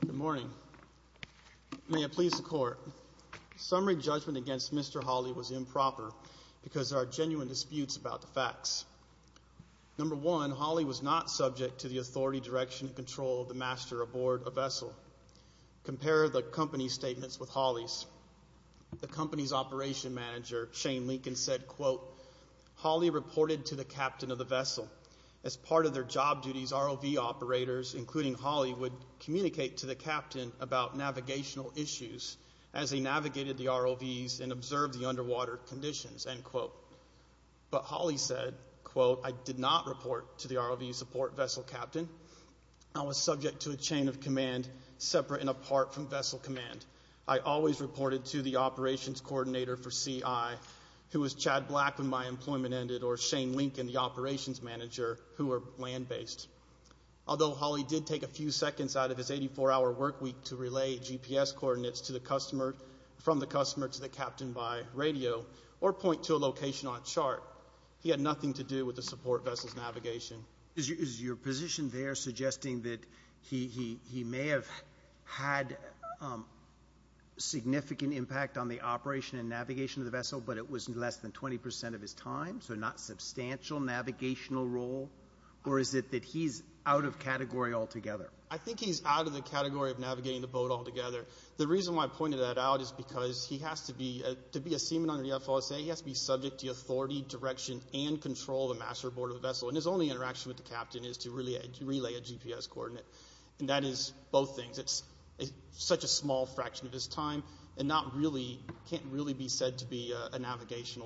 Good morning. May it please the court. Summary judgment against Mr. Halle was improper because there are genuine disputes about the facts. Number one, Halle was not subject to the authority, direction, and control of the master aboard a vessel. Compare the company's statements with Halle's. The company's operation manager, Shane Lincoln, said, quote, Halle reported to the captain of the vessel. As part of their job duties, ROV operators, including Halle, would communicate to the captain about navigational issues as they navigated the ROVs and observed the underwater conditions, end quote. But Halle said, quote, I did not report to the ROV support vessel captain. I was subject to a chain of command separate and apart from vessel command. I always reported to the operations coordinator for CI who was Shane Lincoln, the operations manager, who were land-based. Although Halle did take a few seconds out of his 84-hour work week to relay GPS coordinates to the customer, from the customer to the captain by radio, or point to a location on a chart, he had nothing to do with the support vessel's navigation. Is your position there suggesting that he may have had significant impact on the operation and navigation of the vessel, but it was less than 20% of his time, so not substantial navigational role? Or is it that he's out of category altogether? I think he's out of the category of navigating the boat altogether. The reason why I pointed that out is because he has to be, to be a seaman under the FOSA, he has to be subject to authority, direction, and control of the master board of the vessel. And his only interaction with the captain is to relay a GPS coordinate. And that is both things. It's such a small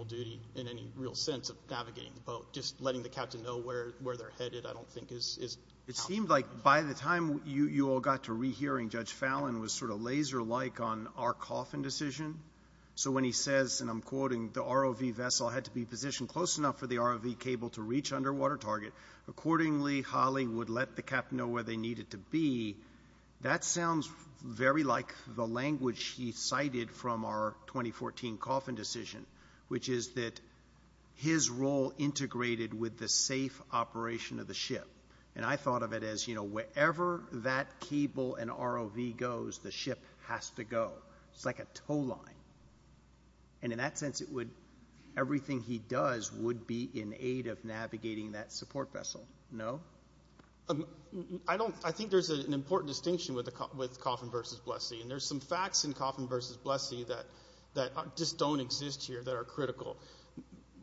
duty in any real sense of navigating the boat. Just letting the captain know where they're headed, I don't think is... It seemed like by the time you all got to rehearing, Judge Fallon was sort of laser-like on our coffin decision. So when he says, and I'm quoting, the ROV vessel had to be positioned close enough for the ROV cable to reach underwater target. Accordingly, Halle would let the captain know where they needed to be. That sounds very like the language he cited from our 2014 coffin decision, which is that his role integrated with the safe operation of the ship. And I thought of it as, you know, wherever that cable and ROV goes, the ship has to go. It's like a tow line. And in that sense, it would, everything he does would be in aid of navigating that support vessel. No? I don't, I think there's an important distinction with the, with Coffin versus Blessee. And that just don't exist here that are critical.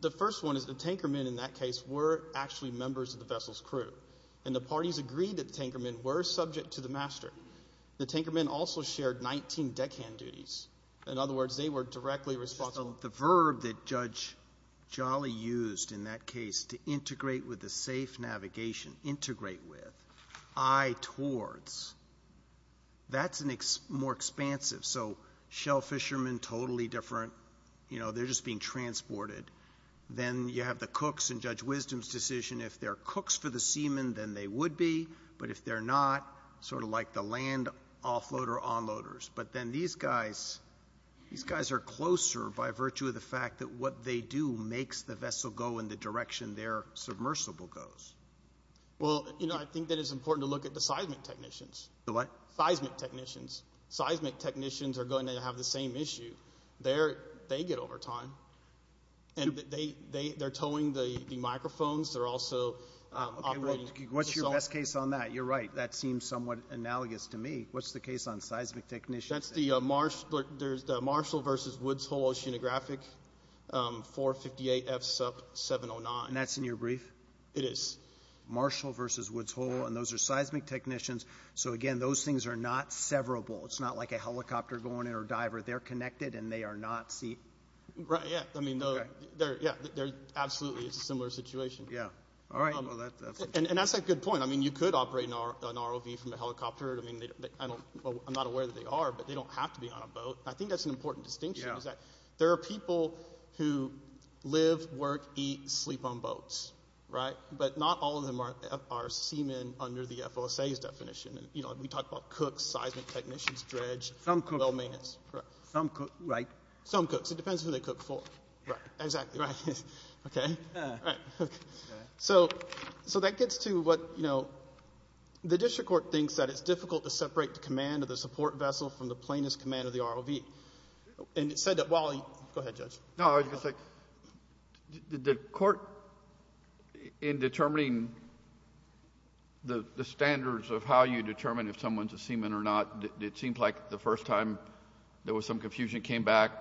The first one is the tanker men in that case were actually members of the vessel's crew. And the parties agreed that the tanker men were subject to the master. The tanker men also shared 19 deckhand duties. In other words, they were directly responsible. The verb that Judge Jolly used in that case, to integrate with the safe navigation, integrate with, I towards, that's more expansive. So shell fishermen, totally different. You know, they're just being transported. Then you have the cooks and Judge Wisdom's decision. If they're cooks for the seamen, then they would be, but if they're not sort of like the land offloader on loaders, but then these guys, these guys are closer by virtue of the fact that what they do makes the vessel go in the direction they're submersible goes. Well, you know, I think that it's important to look at the seismic technicians, seismic technicians, seismic technicians are going to have the same issue. They're, they get over time and they, they, they're towing the microphones. They're also operating. What's your best case on that? You're right. That seems somewhat analogous to me. What's the case on seismic technicians? That's the Marsh, there's the Marshall versus Woods Hole oceanographic, um, four 58 F sub 709. And that's in your brief. It is Marshall versus Woods Hole. And those are seismic technicians. So again, those things are not severable. It's not like a helicopter going in or diver. They're connected and they are not seat. Right. Yeah. I mean, no, they're, yeah, they're absolutely it's a similar situation. Yeah. All right. And that's a good point. I mean, you could operate an R an ROV from a helicopter. I mean, I don't, I'm not aware that they are, but they don't have to be on a boat. I think that's an important distinction is that there are people who live, work, eat, sleep on boats. Right. But not all of them are, are seamen under the FOSAs definition. And, you know, we talked about cooks, seismic technicians, dredge, some cook, right. Some cooks, it depends who they cook for. Right. Exactly. Right. Okay. So, so that gets to what, you know, the district court thinks that it's difficult to separate the command of the support vessel from the plaintiff's command of the ROV. And it said that while... go ahead, Judge. No, I was going to say, did the court, in determining the standards of how you determine if someone's a seaman or not, it seemed like the first time there was some confusion, came back,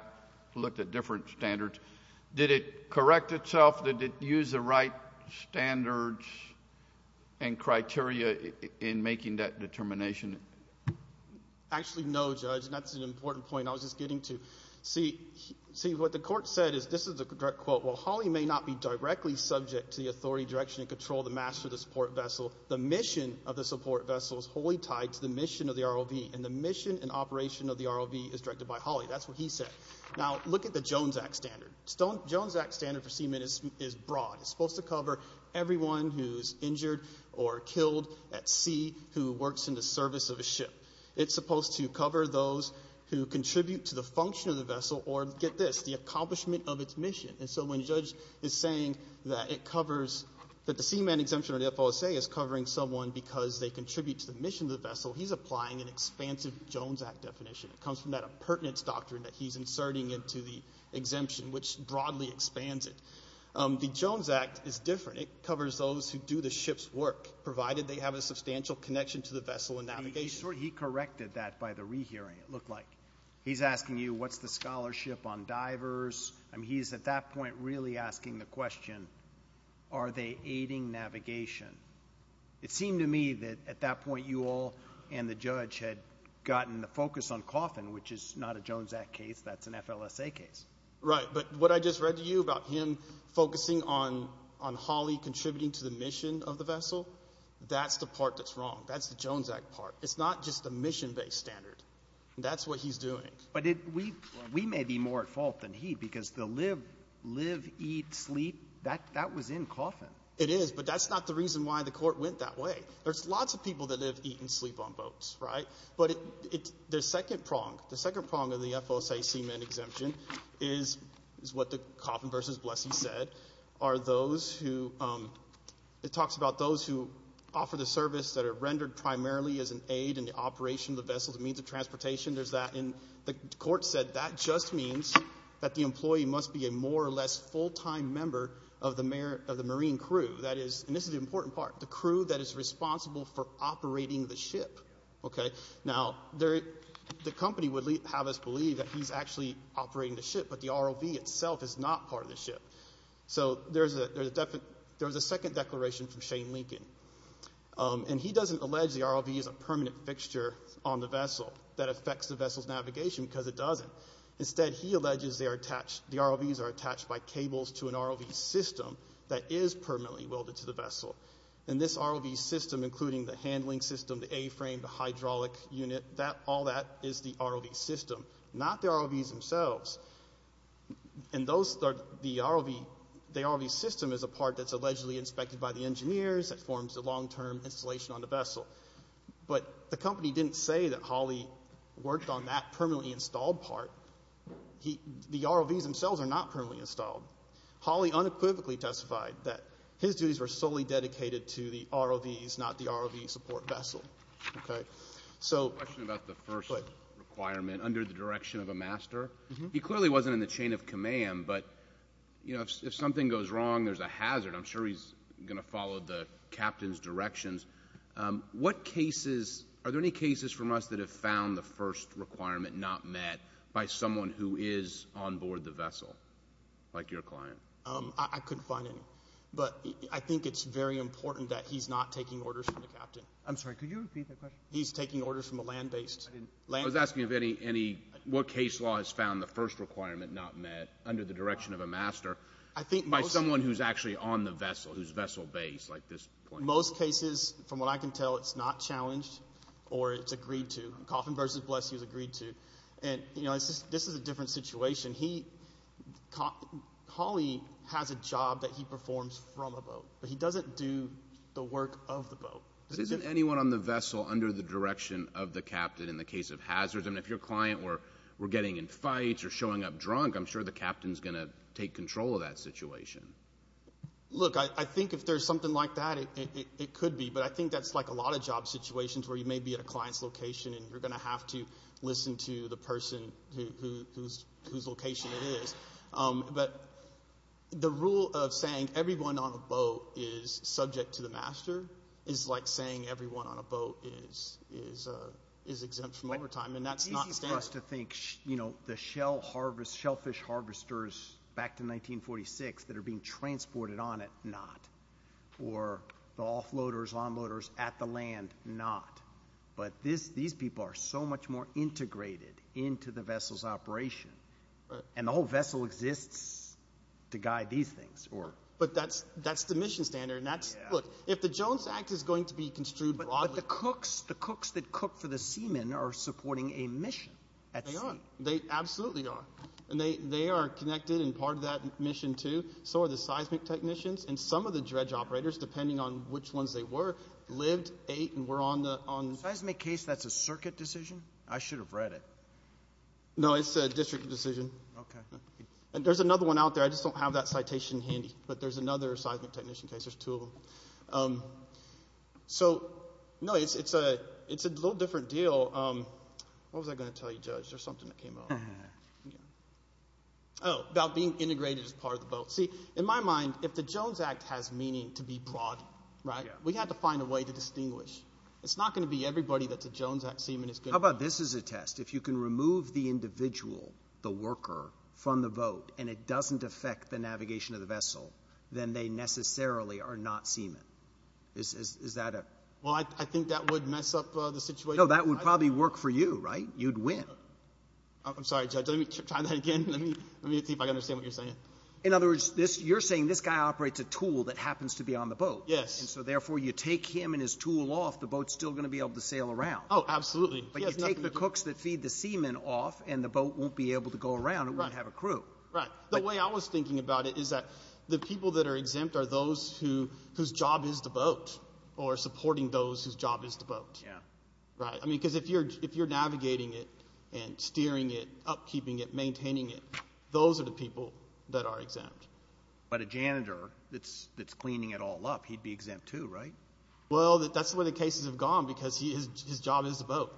looked at different standards. Did it correct itself? Did it use the right standards and criteria in making that determination? Actually, no, Judge. And that's an important point I was just getting to. See, see, what the court said is, this is a direct quote, while Holly may not be directly subject to the authority, direction, and control of the master of the support vessel, the mission of the support vessel is wholly tied to the mission of the ROV. And the mission and operation of the ROV is directed by Holly. That's what he said. Now, look at the Jones Act standard. Stone, Jones Act standard for seamen is, is broad. It's supposed to cover everyone who's on the surface of a ship. It's supposed to cover those who contribute to the function of the vessel or, get this, the accomplishment of its mission. And so when Judge is saying that it covers, that the seaman exemption or the FOSA is covering someone because they contribute to the mission of the vessel, he's applying an expansive Jones Act definition. It comes from that appurtenance doctrine that he's inserting into the exemption, which broadly expands it. The Jones Act is different. It covers those who do the ship's work, provided they have a substantial connection to the vessel and navigation. He corrected that by the rehearing, it looked like. He's asking you, what's the scholarship on divers? I mean, he's at that point really asking the question, are they aiding navigation? It seemed to me that at that point, you all and the judge had gotten the focus on coffin, which is not a Jones Act case. That's an FLSA case. Right. But what I just read to you about him focusing on, on Holly contributing to the mission of the vessel, that's the part that's wrong. That's the Jones Act part. It's not just the mission-based standard. That's what he's doing. But we, we may be more at fault than he, because the live, live, eat, sleep, that, that was in coffin. It is, but that's not the reason why the court went that way. There's lots of people that live, eat and sleep on boats, right? But it, it, the second prong, the second prong of what the coffin versus blessing said are those who, it talks about those who offer the service that are rendered primarily as an aid in the operation of the vessels, means of transportation. There's that in the court said that just means that the employee must be a more or less full-time member of the mayor of the Marine crew. That is, and this is the important part, the crew that is responsible for operating the ship. Okay. Now there, the company would have us believe that he's actually operating the ship, but the ROV itself is not part of the ship. So there's a, there's a definite, there was a second declaration from Shane Lincoln. And he doesn't allege the ROV is a permanent fixture on the vessel that affects the vessel's navigation because it doesn't. Instead, he alleges they are attached, the ROVs are attached by cables to an ROV system that is permanently welded to the vessel. And this ROV system, including the handling system, the A-frame, the hydraulic unit, that, all that is the ROV system, not the ROVs themselves. And those are the ROV, the ROV system is a part that's allegedly inspected by the engineers that forms the long-term installation on the vessel. But the company didn't say that Holley worked on that permanently installed part. He, the ROVs themselves are not permanently installed. Holley unequivocally testified that his duties were solely dedicated to the ROVs, not the ROVs themselves. I have a question about the first requirement under the direction of a master. He clearly wasn't in the chain of command, but, you know, if something goes wrong, there's a hazard. I'm sure he's going to follow the captain's directions. What cases, are there any cases from us that have found the first requirement not met by someone who is on board the vessel, like your client? I couldn't find any. But I think it's very important that he's not taking orders from the captain. I'm sorry, could you repeat that question? He's taking orders from a land-based... I was asking if any, what case law has found the first requirement not met under the direction of a master by someone who's actually on the vessel, who's vessel-based, like this client? Most cases, from what I can tell, it's not challenged or it's agreed to. Coffin vs. Bless is agreed to. And, you know, this is a different situation. He, Holley has a job that he performs from a boat, but he doesn't do the work of the boat. But isn't anyone on the vessel under the direction of the captain in the case of hazards? I mean, if your client were getting in fights or showing up drunk, I'm sure the captain's going to take control of that situation. Look, I think if there's something like that, it could be. But I think that's like a lot of job situations where you may be at a client's location and you're going to have to listen to the person whose location it is. But the rule of saying everyone on the boat is subject to the master is like saying everyone on a boat is exempt from overtime, and that's not standard. It's easy for us to think, you know, the shellfish harvesters back to 1946 that are being transported on it, not. Or the offloaders, onloaders at the land, not. But these people are so much more integrated into the vessel's operation. And the whole vessel exists to guide these things. But that's the mission standard. And that's, look, if the Jones Act is going to be construed broadly. But the cooks, the cooks that cook for the seamen are supporting a mission. They absolutely are. And they are connected and part of that mission, too. So are the seismic technicians and some of the dredge operators, depending on which ones they were, lived, ate, and were on the... Seismic case, that's a circuit decision? I should have read it. No, it's a district decision. Okay. And there's another one out there. I just don't have that citation handy. But there's another seismic technician case. There's two of them. So, no, it's a little different deal. What was I going to tell you, Judge? There's something that came up. Oh, about being integrated as part of the boat. See, in my mind, if the Jones Act has meaning to be broad, right, we have to find a way to distinguish. It's not going to be everybody that's a Jones Act seaman is going to... How about this as a test? If you can remove the individual, the worker, from the boat and it doesn't affect the navigation of the vessel, then they necessarily are not seamen. Is that a... Well, I think that would mess up the situation. No, that would probably work for you, right? You'd win. I'm sorry, Judge. Let me try that again. Let me see if I can understand what you're saying. In other words, you're saying this guy operates a tool that happens to be on the boat. Yes. And so, therefore, you take him and his tool off, the boat's still going to be able to sail around. Oh, absolutely. But you take the cooks that feed the seamen off and the boat won't be able to go around and won't have a crew. Right. The way I was thinking about it is that the people that are exempt are those whose job is the boat or supporting those whose job is the boat. Yeah. Right. I mean, because if you're navigating it and steering it, upkeeping it, maintaining it, those are the people that are exempt. But a janitor that's cleaning it all up, he'd be exempt too, right? Well, that's where the cases have gone because his job is the boat.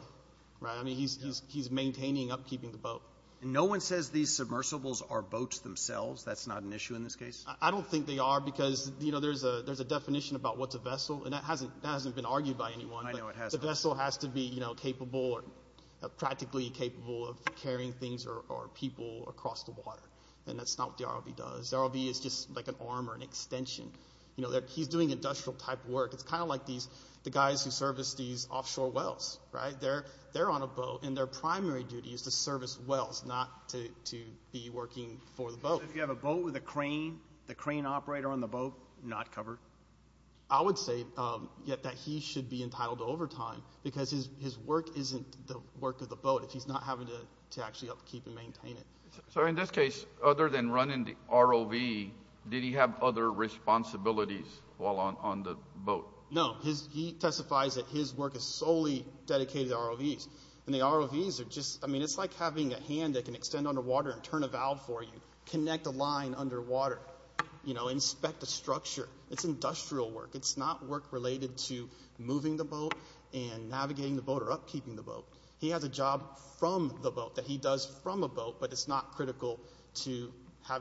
Right? I mean, he's maintaining upkeeping the boat. And no one says these submersibles are boats themselves? That's not an issue in this case? I don't think they are because there's a definition about what's a vessel and that hasn't been argued by anyone. I know it hasn't. The vessel has to be capable or practically capable of carrying things or people across the water. And that's not what the ROV does. The ROV is just like an arm or an extension. He's doing industrial type work. It's kind of like the guys who service these offshore wells. Right? They're on a boat and their primary duty is to service wells, not to be working for the boat. So if you have a boat with a crane, the crane operator on the boat, not covered? I would say that he should be entitled to overtime because his work isn't the work of the boat if he's not having to actually upkeep and maintain it. So in this case, other than running the ROV, did he have other responsibilities while on the boat? No. He testifies that his work is solely dedicated to ROVs. And the ROVs are just, I mean, it's like having a hand that can extend underwater and turn a valve for you, connect a line underwater, you know, inspect a structure. It's industrial work. It's not work related to moving the boat and navigating the boat or upkeeping the boat. He has a job from the boat that he does from a boat, but it's not critical to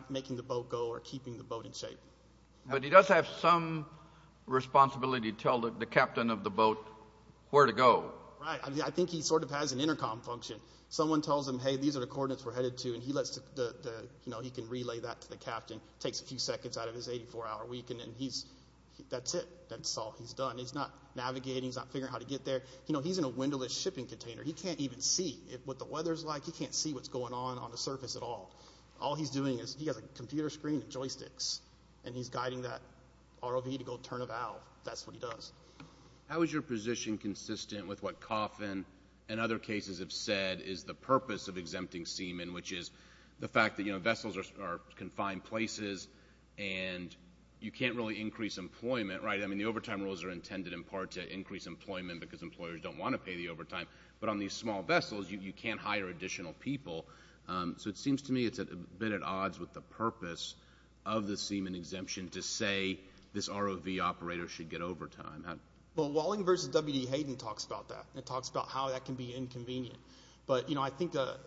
making the boat go or keeping the boat in shape. But he does have some responsibility to tell the captain of the boat where to go. Right. I mean, I think he sort of has an intercom function. Someone tells him, hey, these are the coordinates we're headed to. And he lets the, you know, he can relay that to the captain, takes a few seconds out of his 84 hour week. And then he's, that's it. That's all he's done. He's not navigating, he's not figuring out how to get there. You know, he's in a windowless shipping container. He can't even see what the weather's like. He can't see what's going on on the surface at all. All he's doing is he has a computer screen and joysticks and he's guiding that ROV to go turn a valve. That's what he does. How is your position consistent with what Coffin and other cases have said is the purpose of exempting seamen, which is the fact that, you know, vessels are confined places and you can't really increase employment. Right. I mean, the overtime rules are intended in part to increase employment because employers don't want to pay the overtime. But on these small vessels, you can't hire additional people. So it seems to me it's a bit at odds with the purpose of the seaman exemption to say this ROV operator should get overtime. Well, Walling versus W.D. Hayden talks about that and talks about how that can be inconvenient. But, you know, I think the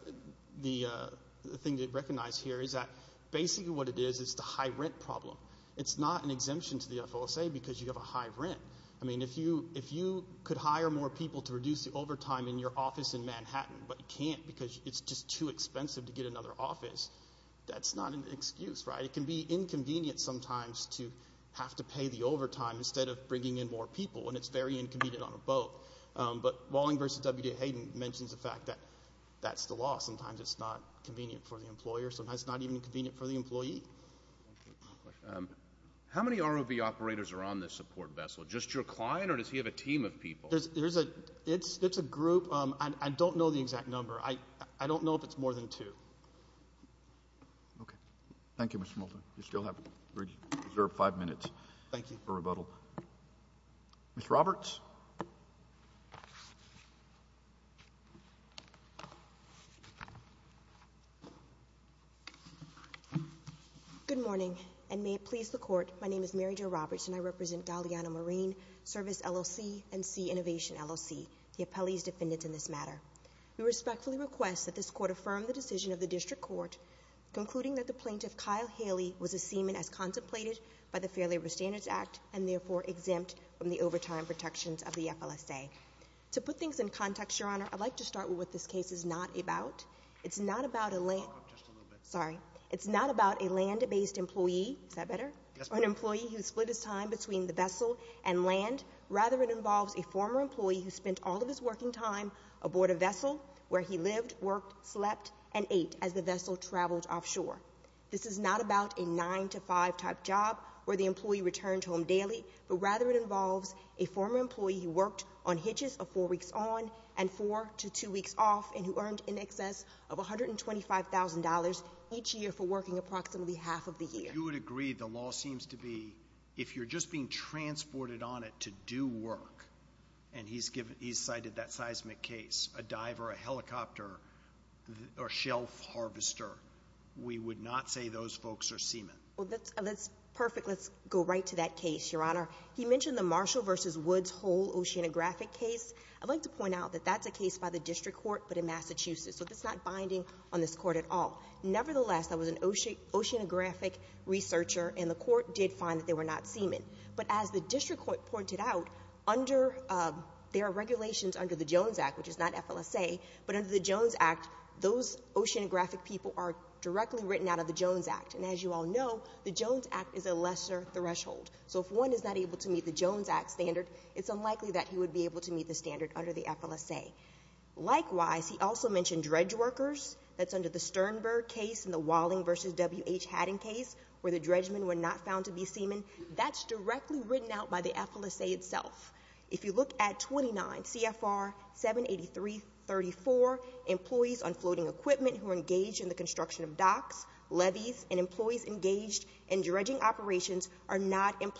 thing to recognize here is that basically what it is, is the high rent problem. It's not an exemption to the FOSA because you have a high rent. I mean, if you if you could hire more people to reduce the overtime in your office in Manhattan, but you can't because it's just too expensive to get another office. That's not an excuse. Right. It can be inconvenient sometimes to have to pay the overtime instead of bringing in more people. And it's very inconvenient on a boat. But Walling versus W.D. Hayden mentions the fact that that's the law. Sometimes it's not convenient for the employer. Sometimes it's not even convenient for the employee. How many ROV operators are on this support vessel? Just your client or does he have a team of people? There's a it's it's a group. And I don't know the exact number. I I don't know if it's more than two. OK, thank you, Mr. Molton. You still have five minutes. Thank you for rebuttal. Mr. Roberts. Good morning and may it please the court. My name is Mary Jo Roberts and I represent Galliano Marine Service LLC and C Innovation LLC, the appellee's defendants in this matter. We respectfully request that this court affirm the decision of the district court concluding that the plaintiff, Kyle Haley, was a seaman as contemplated by the Fair Labor Standards Act and therefore exempt from the overtime protections of the FLSA. To put things in context, your honor, I'd like to start with what this case is not about. It's not about a land just a little bit. Sorry. It's not about a land based employee. Is that better? An employee who split his time between the vessel and land. Rather, it involves a former employee who spent all of his working time aboard a vessel where he lived, worked, slept and ate as the vessel traveled offshore. This is not about a nine to five type job where the employee returned home daily, but rather it involves a former employee who worked on hitches of four weeks on and four to two weeks off and who earned in excess of one hundred and twenty five thousand dollars each year for working approximately half of the year. You would agree the law seems to be if you're just being transported on it to do work and he's given he's cited that seismic case, a diver, a helicopter or shelf harvester. We would not say those folks are seaman. Well, that's that's perfect. Let's go right to that case, your honor. He mentioned the Marshall versus Woods Hole Oceanographic case. I'd like to point out that that's a case by the district court, but in Massachusetts. So that's not binding on this court at all. Nevertheless, I was an oceanographic researcher and the court did find that they were not seaman. But as the district court pointed out under there are regulations under the Jones Act, which is not FLSA, but under the Jones Act, those oceanographic people are directly written out of the Jones Act. And as you all know, the Jones Act is a lesser threshold. So if one is not able to meet the Jones Act standard, it's unlikely that he would be able to meet the standard under the FLSA. Likewise, he also mentioned dredge workers. That's under the Sternberg case in the Walling versus W.H. Haddon case where the dredgemen were not found to be seaman. That's directly written out by the FLSA itself. If you look at 29 CFR 78334, employees on floating equipment who are engaged in the construction of docks, levees and employees engaged in dredging operations are not if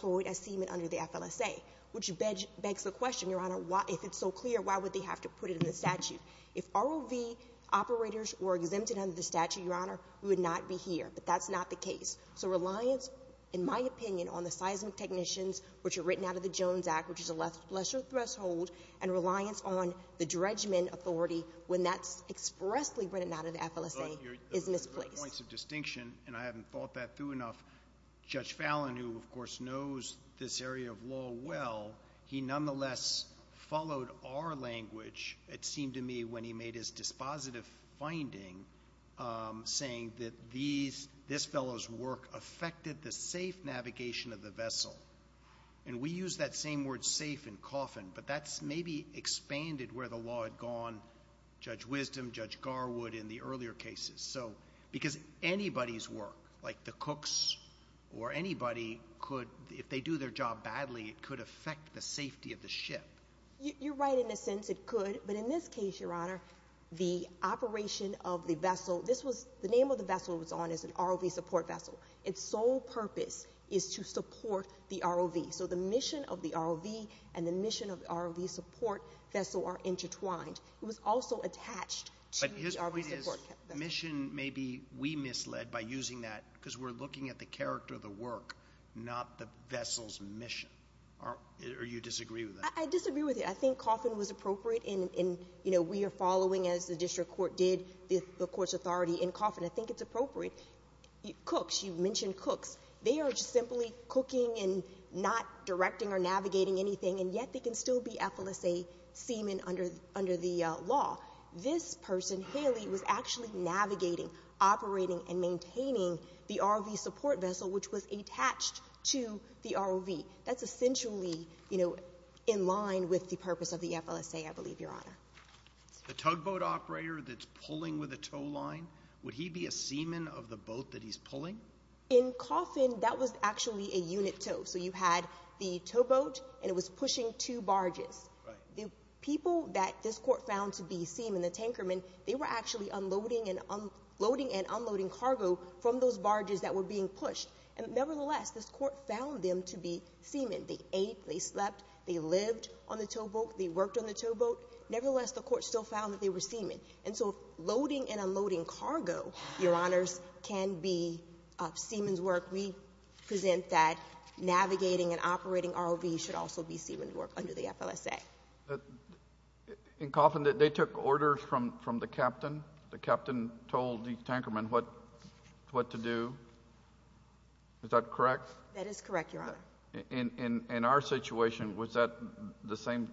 it's so clear, why would they have to put it in the statute? If ROV operators were exempted under the statute, Your Honor, we would not be here. But that's not the case. So reliance, in my opinion, on the seismic technicians which are written out of the Jones Act, which is a lesser threshold and reliance on the dredgemen authority when that's expressly written out of the FLSA is misplaced. There are points of distinction, and I haven't thought that through enough. Judge Fallon, who, of course, knows this area of law well, he nonetheless followed our language, it seemed to me, when he made his dispositive finding, saying that this fellow's work affected the safe navigation of the vessel. And we use that same word safe and coffin, but that's maybe expanded where the law had gone, Judge Wisdom, Judge Garwood in the earlier cases. So because anybody's work, like the cooks or anybody could, if they do their job You're right in the sense it could. But in this case, Your Honor, the operation of the vessel, this was the name of the vessel was on as an ROV support vessel. Its sole purpose is to support the ROV. So the mission of the ROV and the mission of the ROV support vessel are intertwined. It was also attached to the ROV support vessel. But his point is mission maybe we misled by using that because we're looking at the character of the work, not the vessel's mission. Are you disagree with that? I disagree with it. I think coffin was appropriate. And, you know, we are following, as the district court did, the court's authority in coffin. I think it's appropriate. Cooks, you mentioned cooks. They are just simply cooking and not directing or navigating anything. And yet they can still be effluently a seaman under the law. This person, Haley, was actually navigating, operating and maintaining the ROV support vessel, which was attached to the ROV. That's essentially, you know, in line with the purpose of the FLSA, I believe, Your Honor. The tugboat operator that's pulling with a tow line, would he be a seaman of the boat that he's pulling? In coffin, that was actually a unit tow. So you had the towboat and it was pushing two barges. The people that this court found to be seaman, the tanker men, they were actually unloading and unloading and unloading cargo from those barges that were being pushed. And nevertheless, this court found them to be seaman. They ate, they slept, they lived on the towboat, they worked on the towboat. Nevertheless, the court still found that they were seaman. And so loading and unloading cargo, Your Honors, can be seaman's work. We present that navigating and operating ROV should also be seaman's work under the FLSA. In coffin, they took orders from the captain. The captain told the tanker men what to do. Is that correct? That is correct, Your Honor. In our situation, was that the same?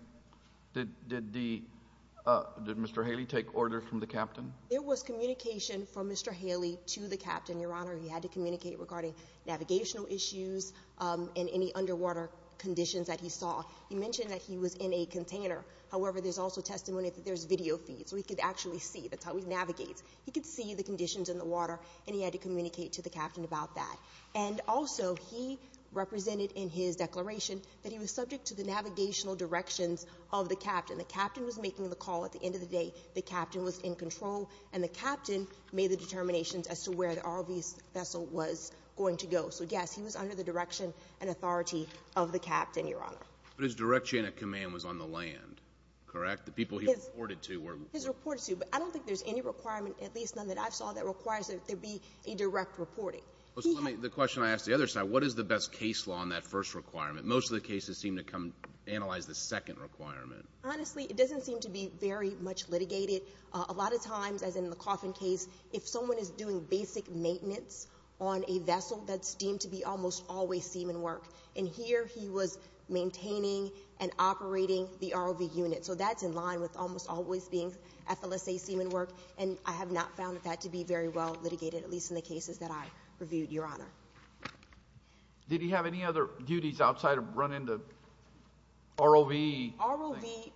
Did Mr. Haley take orders from the captain? It was communication from Mr. Haley to the captain, Your Honor. He had to communicate regarding navigational issues and any underwater conditions that he saw. He mentioned that he was in a container. However, there's also testimony that there's video feed so he could actually see. That's how he navigates. He could see the conditions in the water and he had to communicate to the captain about that. And also, he represented in his declaration that he was subject to the navigational directions of the captain. The captain was making the call at the end of the day. The captain was in control and the captain made the determinations as to where the ROV vessel was going to go. So, yes, he was under the direction and authority of the captain, Your Honor. But his direction and command was on the land, correct? The people he reported to were. His report is due, but I don't think there's any requirement, at least none that I've saw, that requires that there be a direct reporting. The question I asked the other side, what is the best case law on that first requirement? Most of the cases seem to come analyze the second requirement. Honestly, it doesn't seem to be very much litigated. A lot of times, as in the coffin case, if someone is doing basic maintenance on a vessel that's deemed to be almost always seaman work. And here he was maintaining and operating the ROV unit. So that's in line with almost always being FLSA seaman work. And I have not found that to be very well litigated, at least in the cases that I reviewed, Your Honor. Did he have any other duties outside of running the ROV? ROV,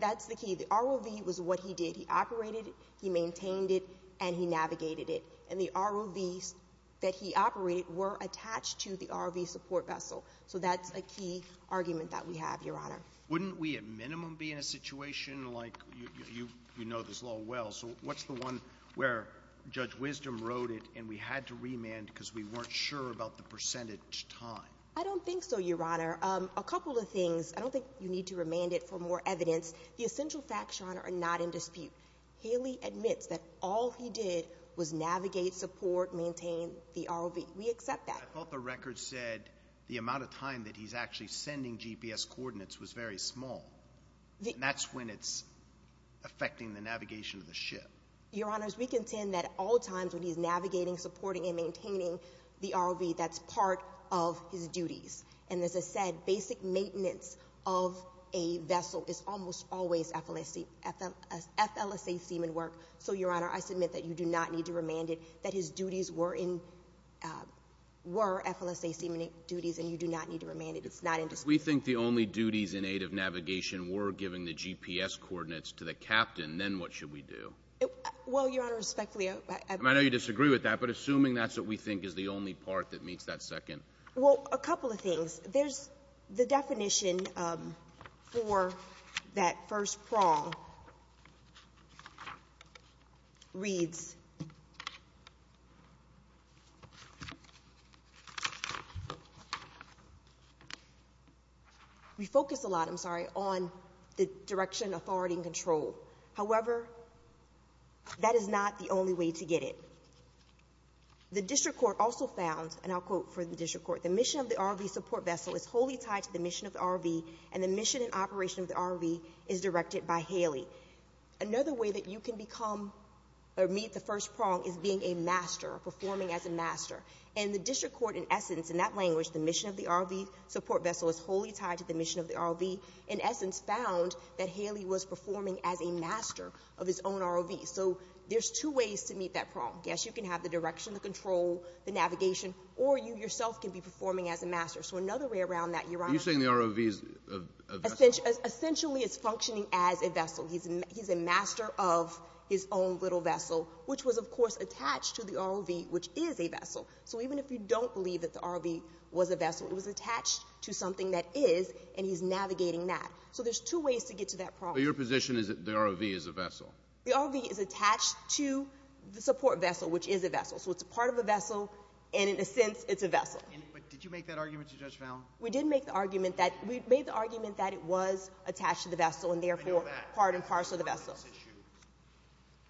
that's the key. The ROV was what he did. He operated, he maintained it, and he navigated it. And the ROVs that he operated were attached to the ROV support vessel. So that's a key argument that we have, Your Honor. Wouldn't we at minimum be in a situation like, you know this law well, so what's the one where Judge Wisdom wrote it and we had to remand because we weren't sure about the percentage time? I don't think so, Your Honor. Um, a couple of things. I don't think you need to remand it for more evidence. The essential facts, Your Honor, are not in dispute. Haley admits that all he did was navigate, support, maintain the ROV. We accept that. I thought the record said the amount of time that he's actually sending GPS coordinates was very small. That's when it's affecting the navigation of the ship. Your Honor, we contend that all times when he's navigating, supporting, and maintaining the ROV, that's part of his duties. And as I said, basic maintenance of a vessel is almost always FLSA, FLSA seaman work. So, Your Honor, I submit that you do not need to remand it, that his duties were in, uh, were FLSA seaman duties and you do not need to remand it. It's not in dispute. We think the only duties in aid of navigation were giving the GPS coordinates to the captain. Then what should we do? Well, Your Honor, respectfully, I know you disagree with that, but assuming that's what we think is the only part that meets that second, well, a couple of things, there's the definition, um, for that first prong reads, we focus a lot, I'm sorry, on the direction, authority, and control. However, that is not the only way to get it. The district court also found, and I'll quote for the district court, Another way that you can become or meet the first prong is being a master, performing as a master. And the district court, in essence, in that language, the mission of the ROV support vessel is wholly tied to the mission of the ROV, in essence, found that Haley was performing as a master of his own ROV. So there's two ways to meet that prong. Yes, you can have the direction, the control, the navigation, or you yourself can be performing as a master. So another way around that, Your Honor, essentially it's functioning as a vessel. He's, he's a master of his own little vessel, which was of course attached to the ROV, which is a vessel. So even if you don't believe that the ROV was a vessel, it was attached to something that is, and he's navigating that. So there's two ways to get to that prong. But your position is that the ROV is a vessel? The ROV is attached to the support vessel, which is a vessel. So it's a part of a vessel. And in a sense, it's a vessel. And, but did you make that argument to Judge Fallon? We did make the argument that we made the argument that it was attached to the vessel and therefore part and parcel of the vessel,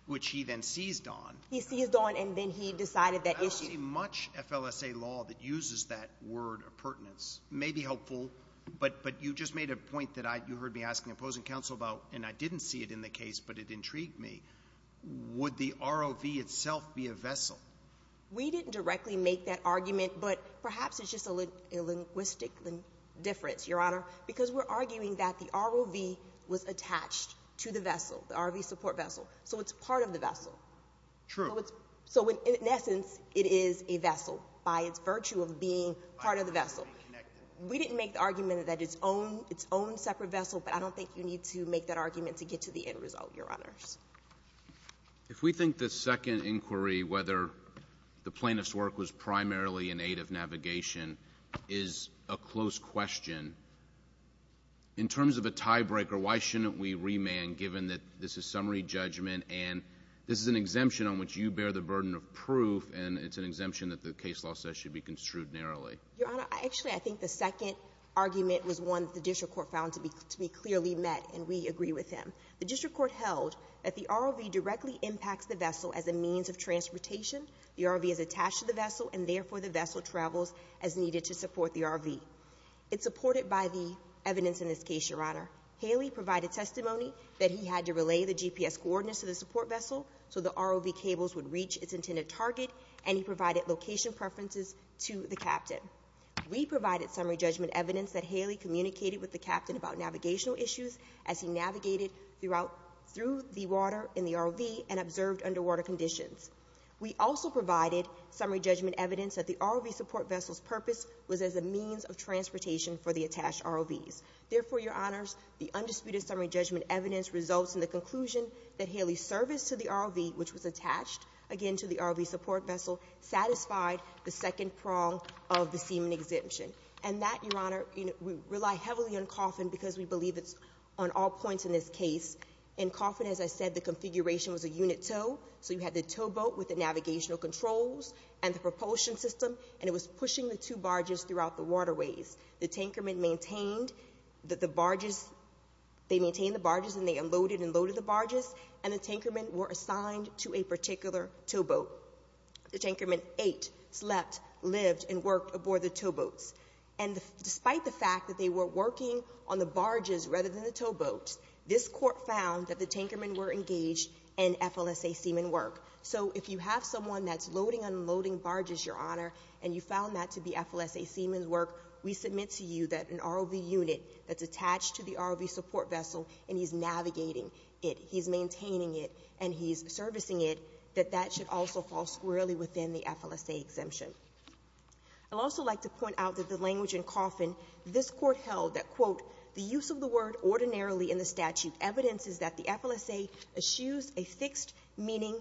which he then seized on. He seized on, and then he decided that issue. I don't see much FLSA law that uses that word of pertinence. May be helpful, but, but you just made a point that I, you heard me asking opposing counsel about, and I didn't see it in the case, but it intrigued me. Would the ROV itself be a vessel? We didn't directly make that argument, but perhaps it's just a little linguistic difference, Your Honor, because we're arguing that the ROV was attached to the vessel, the ROV support vessel. So it's part of the vessel. True. So it's, so in essence, it is a vessel by its virtue of being part of the vessel. We didn't make the argument that its own, its own separate vessel, but I don't think you need to make that argument to get to the end result, Your Honors. If we think the second inquiry, whether the plaintiff's work was primarily in aid of navigation is a close question. In terms of a tiebreaker, why shouldn't we remand given that this is summary judgment and this is an exemption on which you bear the burden of proof. And it's an exemption that the case law says should be construed narrowly. Your Honor, I actually, I think the second argument was one that the district court found to be, to be clearly met. And we agree with him. The district court held that the ROV directly impacts the vessel as a means of transportation. The ROV is attached to the vessel and therefore the vessel travels as needed to support the ROV. It's supported by the evidence in this case, Your Honor. Haley provided testimony that he had to relay the GPS coordinates to the support location preferences to the captain. We provided summary judgment evidence that Haley communicated with the captain about navigational issues as he navigated throughout through the water in the ROV and observed underwater conditions. We also provided summary judgment evidence that the ROV support vessel's purpose was as a means of transportation for the attached ROVs. Therefore, Your Honors, the undisputed summary judgment evidence results in the conclusion that Haley's service to the ROV, which was attached again to the ROV support vessel, satisfied the second prong of the seaman exemption. And that, Your Honor, you know, we rely heavily on Coffin because we believe it's on all points in this case. In Coffin, as I said, the configuration was a unit tow. So you had the towboat with the navigational controls and the propulsion system, and it was pushing the two barges throughout the waterways. The tanker men maintained that the barges, they maintained the barges and they unloaded and loaded the barges and the tanker men were assigned to a particular towboat. The tanker men ate, slept, lived, and worked aboard the towboats. And despite the fact that they were working on the barges rather than the towboats, this court found that the tanker men were engaged in FLSA seaman work. So if you have someone that's loading, unloading barges, Your Honor, and you found that to be FLSA seaman work, we submit to you that an ROV unit that's attached to the ROV support vessel and he's navigating it, he's maintaining it that that should also fall squarely within the FLSA exemption. I'd also like to point out that the language in Coffin, this court held that quote, the use of the word ordinarily in the statute evidence is that the FLSA eschews a fixed meaning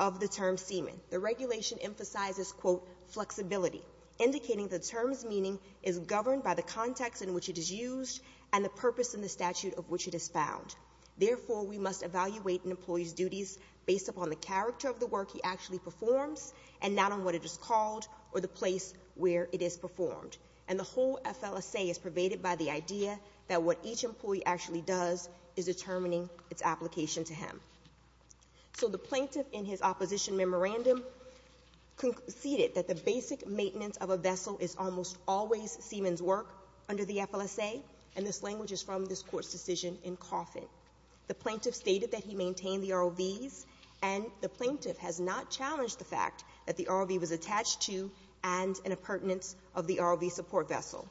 of the term seaman. The regulation emphasizes quote, flexibility, indicating the term's meaning is governed by the context in which it is used and the purpose in the statute of which it is found. Therefore, we must evaluate an employee's duties based upon the character of the work he actually performs and not on what it is called or the place where it is performed. And the whole FLSA is pervaded by the idea that what each employee actually does is determining its application to him. So the plaintiff in his opposition memorandum conceded that the basic maintenance of a vessel is almost always seaman's work under the FLSA. And this language is from this court's decision in Coffin. The plaintiff stated that he maintained the ROVs and the plaintiff has not challenged the fact that the ROV was attached to and in a pertinence of the ROV support vessel.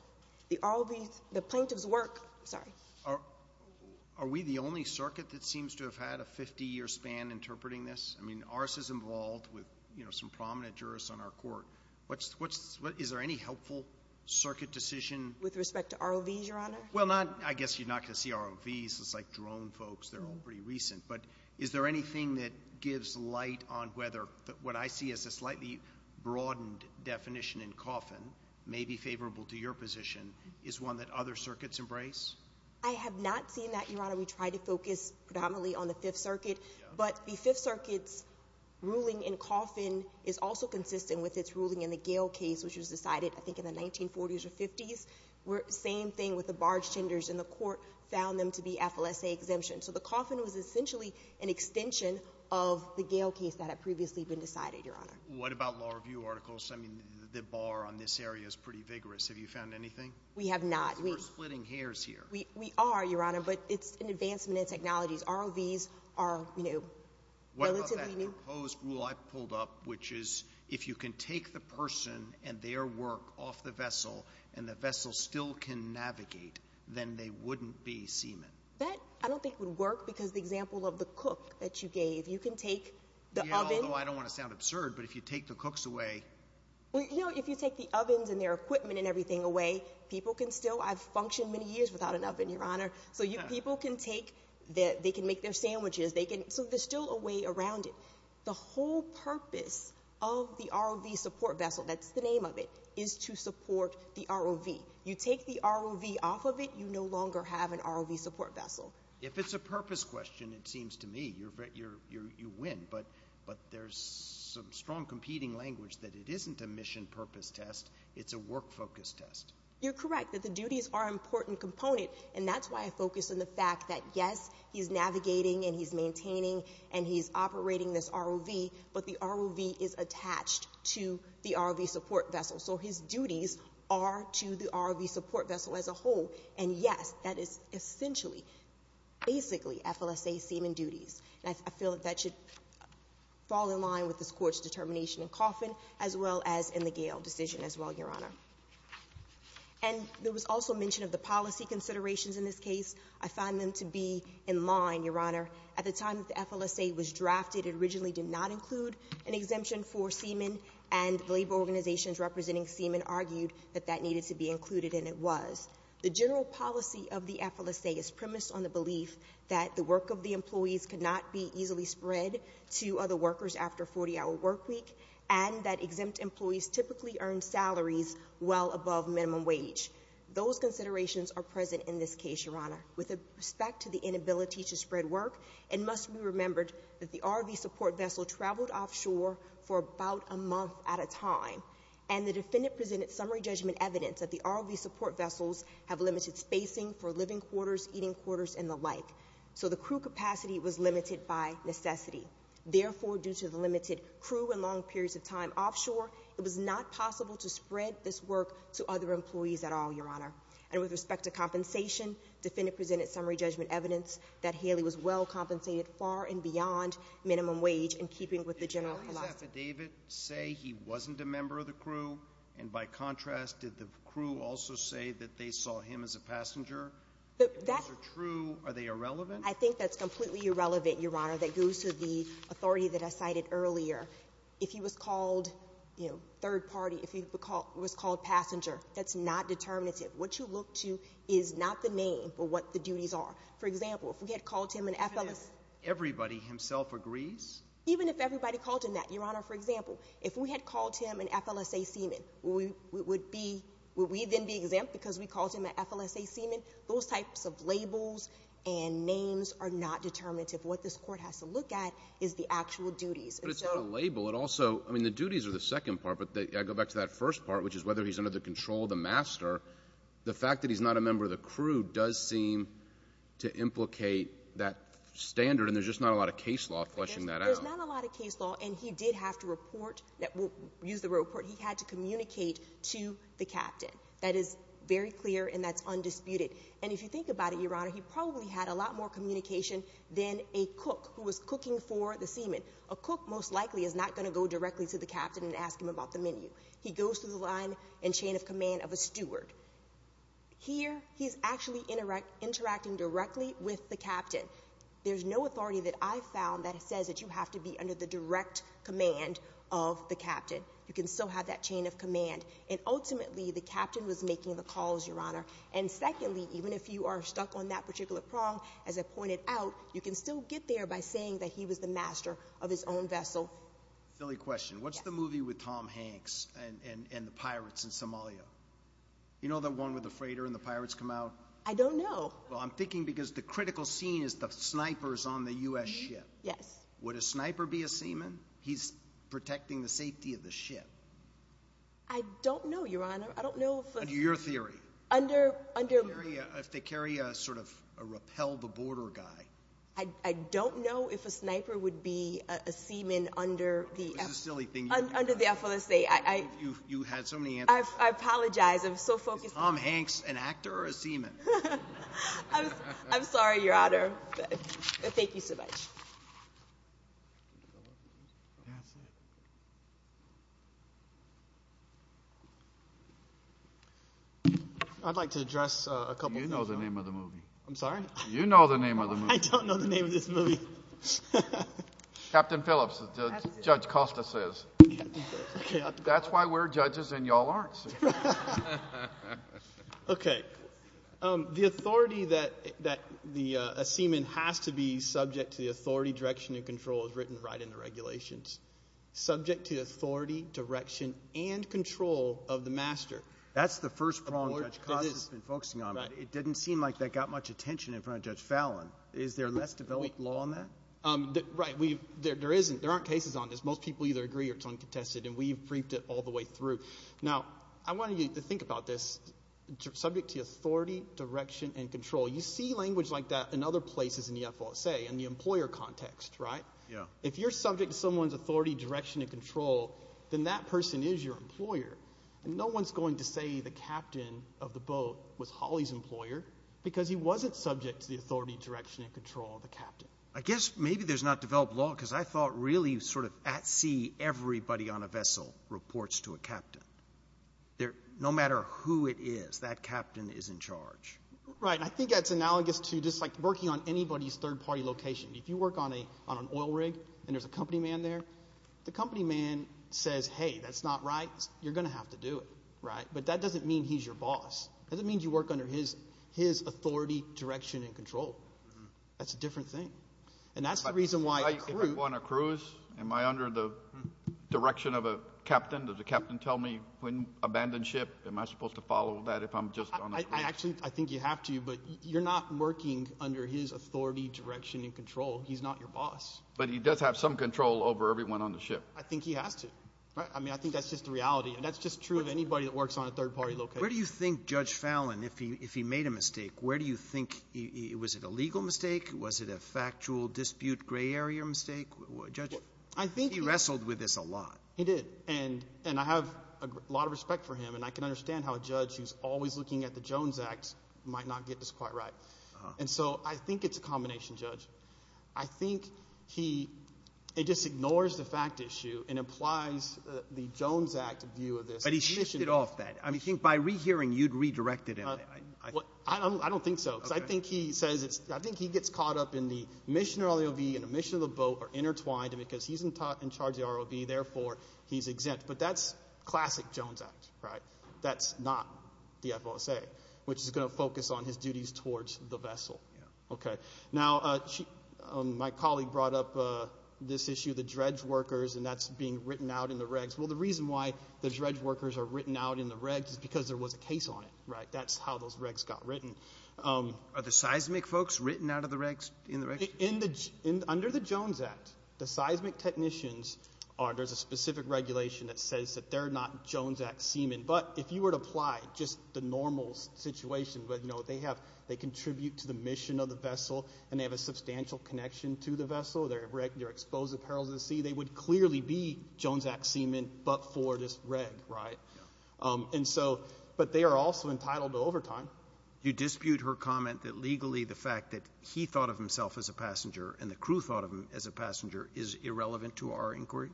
The ROV, the plaintiff's work, sorry. Are we the only circuit that seems to have had a 50 year span interpreting this? I mean, ours is involved with, you know, some prominent jurists on our court. What's what's what is there any helpful circuit decision with respect to ROVs Well, not, I guess you're not going to see ROVs. It's like drone folks. They're all pretty recent. But is there anything that gives light on whether what I see as a slightly broadened definition in Coffin may be favorable to your position is one that other circuits embrace? I have not seen that, Your Honor. We try to focus predominantly on the fifth circuit, but the fifth circuit's ruling in Coffin is also consistent with its ruling in the Gale case, which was decided I think in the 1940s or 50s. Same thing with the barge tenders and the court found them to be FLSA exemption. So the Coffin was essentially an extension of the Gale case that had previously been decided, Your Honor. What about law review articles? I mean, the bar on this area is pretty vigorous. Have you found anything? We have not. We're splitting hairs here. We are, Your Honor, but it's an advancement in technologies. ROVs are, you know, relatively new. What about that proposed rule I pulled up, which is if you can take the person and their work off the vessel and the vessel still can navigate, then they wouldn't be seamen? That I don't think would work because the example of the cook that you gave, you can take the oven. Although I don't want to sound absurd, but if you take the cooks away. Well, you know, if you take the ovens and their equipment and everything away, people can still, I've functioned many years without an oven, Your Honor. So people can take, they can make their sandwiches. They can, so there's still a way around it. The whole purpose of the ROV support vessel, that's the name of it, is to support the ROV. You take the ROV off of it. You no longer have an ROV support vessel. If it's a purpose question, it seems to me you're, you're, you're, you win. But, but there's some strong competing language that it isn't a mission purpose test. It's a work focus test. You're correct that the duties are important component. And that's why I focus on the fact that, yes, he's navigating and he's But the ROV is attached to the ROV support vessel. So his duties are to the ROV support vessel as a whole. And yes, that is essentially, basically FLSA seamen duties. And I feel that that should fall in line with this court's determination in Coffin as well as in the Gale decision as well, Your Honor. And there was also mention of the policy considerations in this case. I find them to be in line, Your Honor, at the time that the FLSA was drafted, it originally did not include an exemption for seamen. And labor organizations representing seamen argued that that needed to be included. And it was. The general policy of the FLSA is premised on the belief that the work of the employees could not be easily spread to other workers after 40 hour work week. And that exempt employees typically earn salaries well above minimum wage. Those considerations are present in this case, Your Honor. With a respect to the inability to spread work, it must be remembered that the ROV support vessel traveled offshore for about a month at a time. And the defendant presented summary judgment evidence that the ROV support vessels have limited spacing for living quarters, eating quarters, and the like. So the crew capacity was limited by necessity. Therefore, due to the limited crew and long periods of time offshore, it was not possible to spread this work to other employees at all, Your Honor. And with respect to compensation, defendant presented summary judgment evidence that in keeping with the general policy. Did Gary's affidavit say he wasn't a member of the crew? And by contrast, did the crew also say that they saw him as a passenger? If those are true, are they irrelevant? I think that's completely irrelevant, Your Honor. That goes to the authority that I cited earlier. If he was called, you know, third party, if he was called passenger, that's not determinative. What you look to is not the name, but what the duties are. For example, if we had called him an FLSA— Everybody himself agrees? Even if everybody called him that, Your Honor. For example, if we had called him an FLSA seaman, would we then be exempt because we called him an FLSA seaman? Those types of labels and names are not determinative. What this court has to look at is the actual duties. But it's not a label. It also—I mean, the duties are the second part. But I go back to that first part, which is whether he's under the control of the master. The fact that he's not a member of the crew does seem to implicate that standard. There's just not a lot of case law fleshing that out. There's not a lot of case law. And he did have to report—use the word report—he had to communicate to the captain. That is very clear, and that's undisputed. And if you think about it, Your Honor, he probably had a lot more communication than a cook who was cooking for the seaman. A cook most likely is not going to go directly to the captain and ask him about the menu. He goes through the line and chain of command of a steward. Here, he's actually interacting directly with the captain. There's no authority that I've found that says that you have to be under the direct command of the captain. You can still have that chain of command. And ultimately, the captain was making the calls, Your Honor. And secondly, even if you are stuck on that particular prong, as I pointed out, you can still get there by saying that he was the master of his own vessel. Silly question. What's the movie with Tom Hanks and the pirates in Somalia? You know the one with the freighter and the pirates come out? I don't know. Well, I'm thinking because the critical scene is the snipers on the U.S. ship. Yes. Would a sniper be a seaman? He's protecting the safety of the ship. I don't know, Your Honor. I don't know. Your theory? If they carry a sort of a rappel-the-border guy. I don't know if a sniper would be a seaman under the FLSA. You had so many answers. I apologize. I'm so focused. Is Tom Hanks an actor or a seaman? I'm sorry, Your Honor. Thank you so much. I'd like to address a couple of things. You know the name of the movie. I'm sorry? You know the name of the movie. I don't know the name of this movie. Captain Phillips, as Judge Costa says. That's why we're judges and y'all aren't. Okay, the authority that a seaman has to be subject to the authority, direction, and control is written right in the regulations. Subject to authority, direction, and control of the master. That's the first prong Judge Costa's been focusing on. It didn't seem like that got much attention in front of Judge Fallon. Is there less developed law on that? Right, there aren't cases on this. Most people either agree or it's uncontested and we've briefed it all the way through. Now, I want you to think about this. Subject to authority, direction, and control. You see language like that in other places in the FSA, in the employer context, right? Yeah. If you're subject to someone's authority, direction, and control, then that person is your employer. And no one's going to say the captain of the boat was Holly's employer because he wasn't subject to the authority, direction, and control of the captain. I guess maybe there's not developed law because I thought really sort of at sea everybody on a vessel reports to a captain. No matter who it is, that captain is in charge. Right. I think that's analogous to just like working on anybody's third-party location. If you work on an oil rig and there's a company man there, the company man says, hey, that's not right. You're going to have to do it, right? But that doesn't mean he's your boss. It doesn't mean you work under his authority, direction, and control. That's a different thing. And that's the reason why- Am I under the direction of a captain? Does the captain tell me when to abandon ship? Am I supposed to follow that if I'm just on a cruise? I think you have to, but you're not working under his authority, direction, and control. He's not your boss. But he does have some control over everyone on the ship. I think he has to. I mean, I think that's just the reality. And that's just true of anybody that works on a third-party location. Where do you think Judge Fallon, if he made a mistake, where do you think- Was it a legal mistake? Was it a factual dispute gray area mistake? Judge, he wrestled with this a lot. He did. And I have a lot of respect for him. And I can understand how a judge who's always looking at the Jones Act might not get this quite right. And so I think it's a combination, Judge. I think he just ignores the fact issue and implies the Jones Act view of this. But he shifted off that. I mean, I think by rehearing, you'd redirected him. I don't think so. Because I think he says it's- He's in charge of the ROV. Therefore, he's exempt. But that's classic Jones Act, right? That's not the FOSA, which is going to focus on his duties towards the vessel. Okay. Now, my colleague brought up this issue, the dredge workers. And that's being written out in the regs. Well, the reason why the dredge workers are written out in the regs is because there was a case on it, right? That's how those regs got written. Are the seismic folks written out of the regs, in the regs? Under the Jones Act, the seismic technicians, there's a specific regulation that says that they're not Jones Act seamen. But if you were to apply just the normal situation, where they contribute to the mission of the vessel, and they have a substantial connection to the vessel, they're exposed to the perils of the sea, they would clearly be Jones Act seamen, but for this reg, right? But they are also entitled to overtime. You dispute her comment that legally, the fact that he thought of himself as a passenger, and the crew thought of him as a passenger is irrelevant to our inquiry?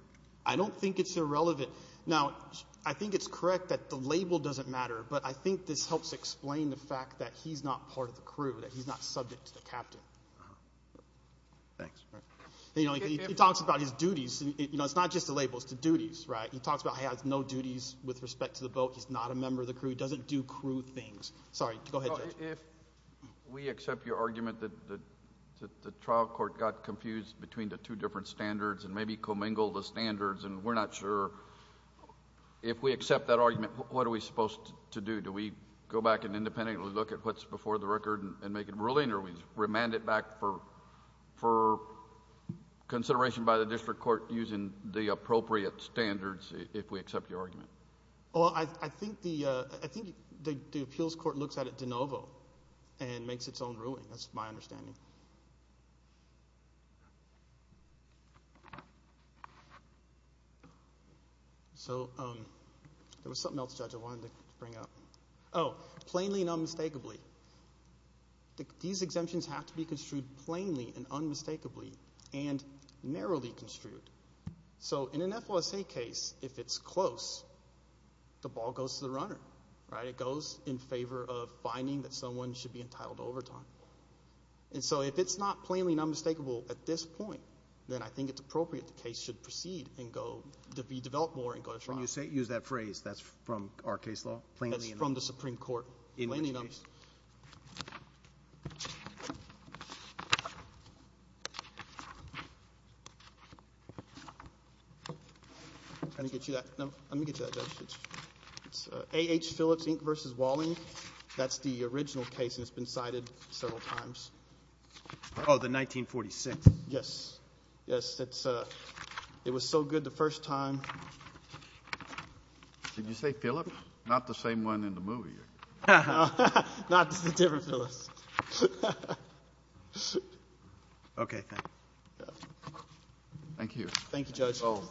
I don't think it's irrelevant. Now, I think it's correct that the label doesn't matter. But I think this helps explain the fact that he's not part of the crew, that he's not subject to the captain. Thanks. He talks about his duties. It's not just a label, it's the duties, right? He talks about he has no duties with respect to the boat. He doesn't do crew things. Sorry, go ahead, Judge. If we accept your argument that the trial court got confused between the two different standards and maybe commingled the standards, and we're not sure, if we accept that argument, what are we supposed to do? Do we go back and independently look at what's before the record and make a ruling, or we remand it back for consideration by the district court using the appropriate standards, if we accept your argument? Well, I think the appeals court looks at it de novo and makes its own ruling. That's my understanding. So there was something else, Judge, I wanted to bring up. Oh, plainly and unmistakably. These exemptions have to be construed plainly and unmistakably and narrowly construed. So in an FOSA case, if it's close, the ball goes to the runner, right? It goes in favor of finding that someone should be entitled to overtime. And so if it's not plainly and unmistakable at this point, then I think it's appropriate the case should proceed and go, to be developed more and go to trial. When you say, use that phrase, that's from our case law? Plainly and unmistakably. From the Supreme Court. Plainly and unmistakably. I'm going to get you that. No, let me get you that, Judge. It's A.H. Phillips, Inc. versus Walling. That's the original case and it's been cited several times. Oh, the 1946? Yes. Yes, it was so good the first time. Did you say Phillips? Not the same one in the movie. Not the different Phillips. Okay, thank you. Thank you. Thank you, Judge.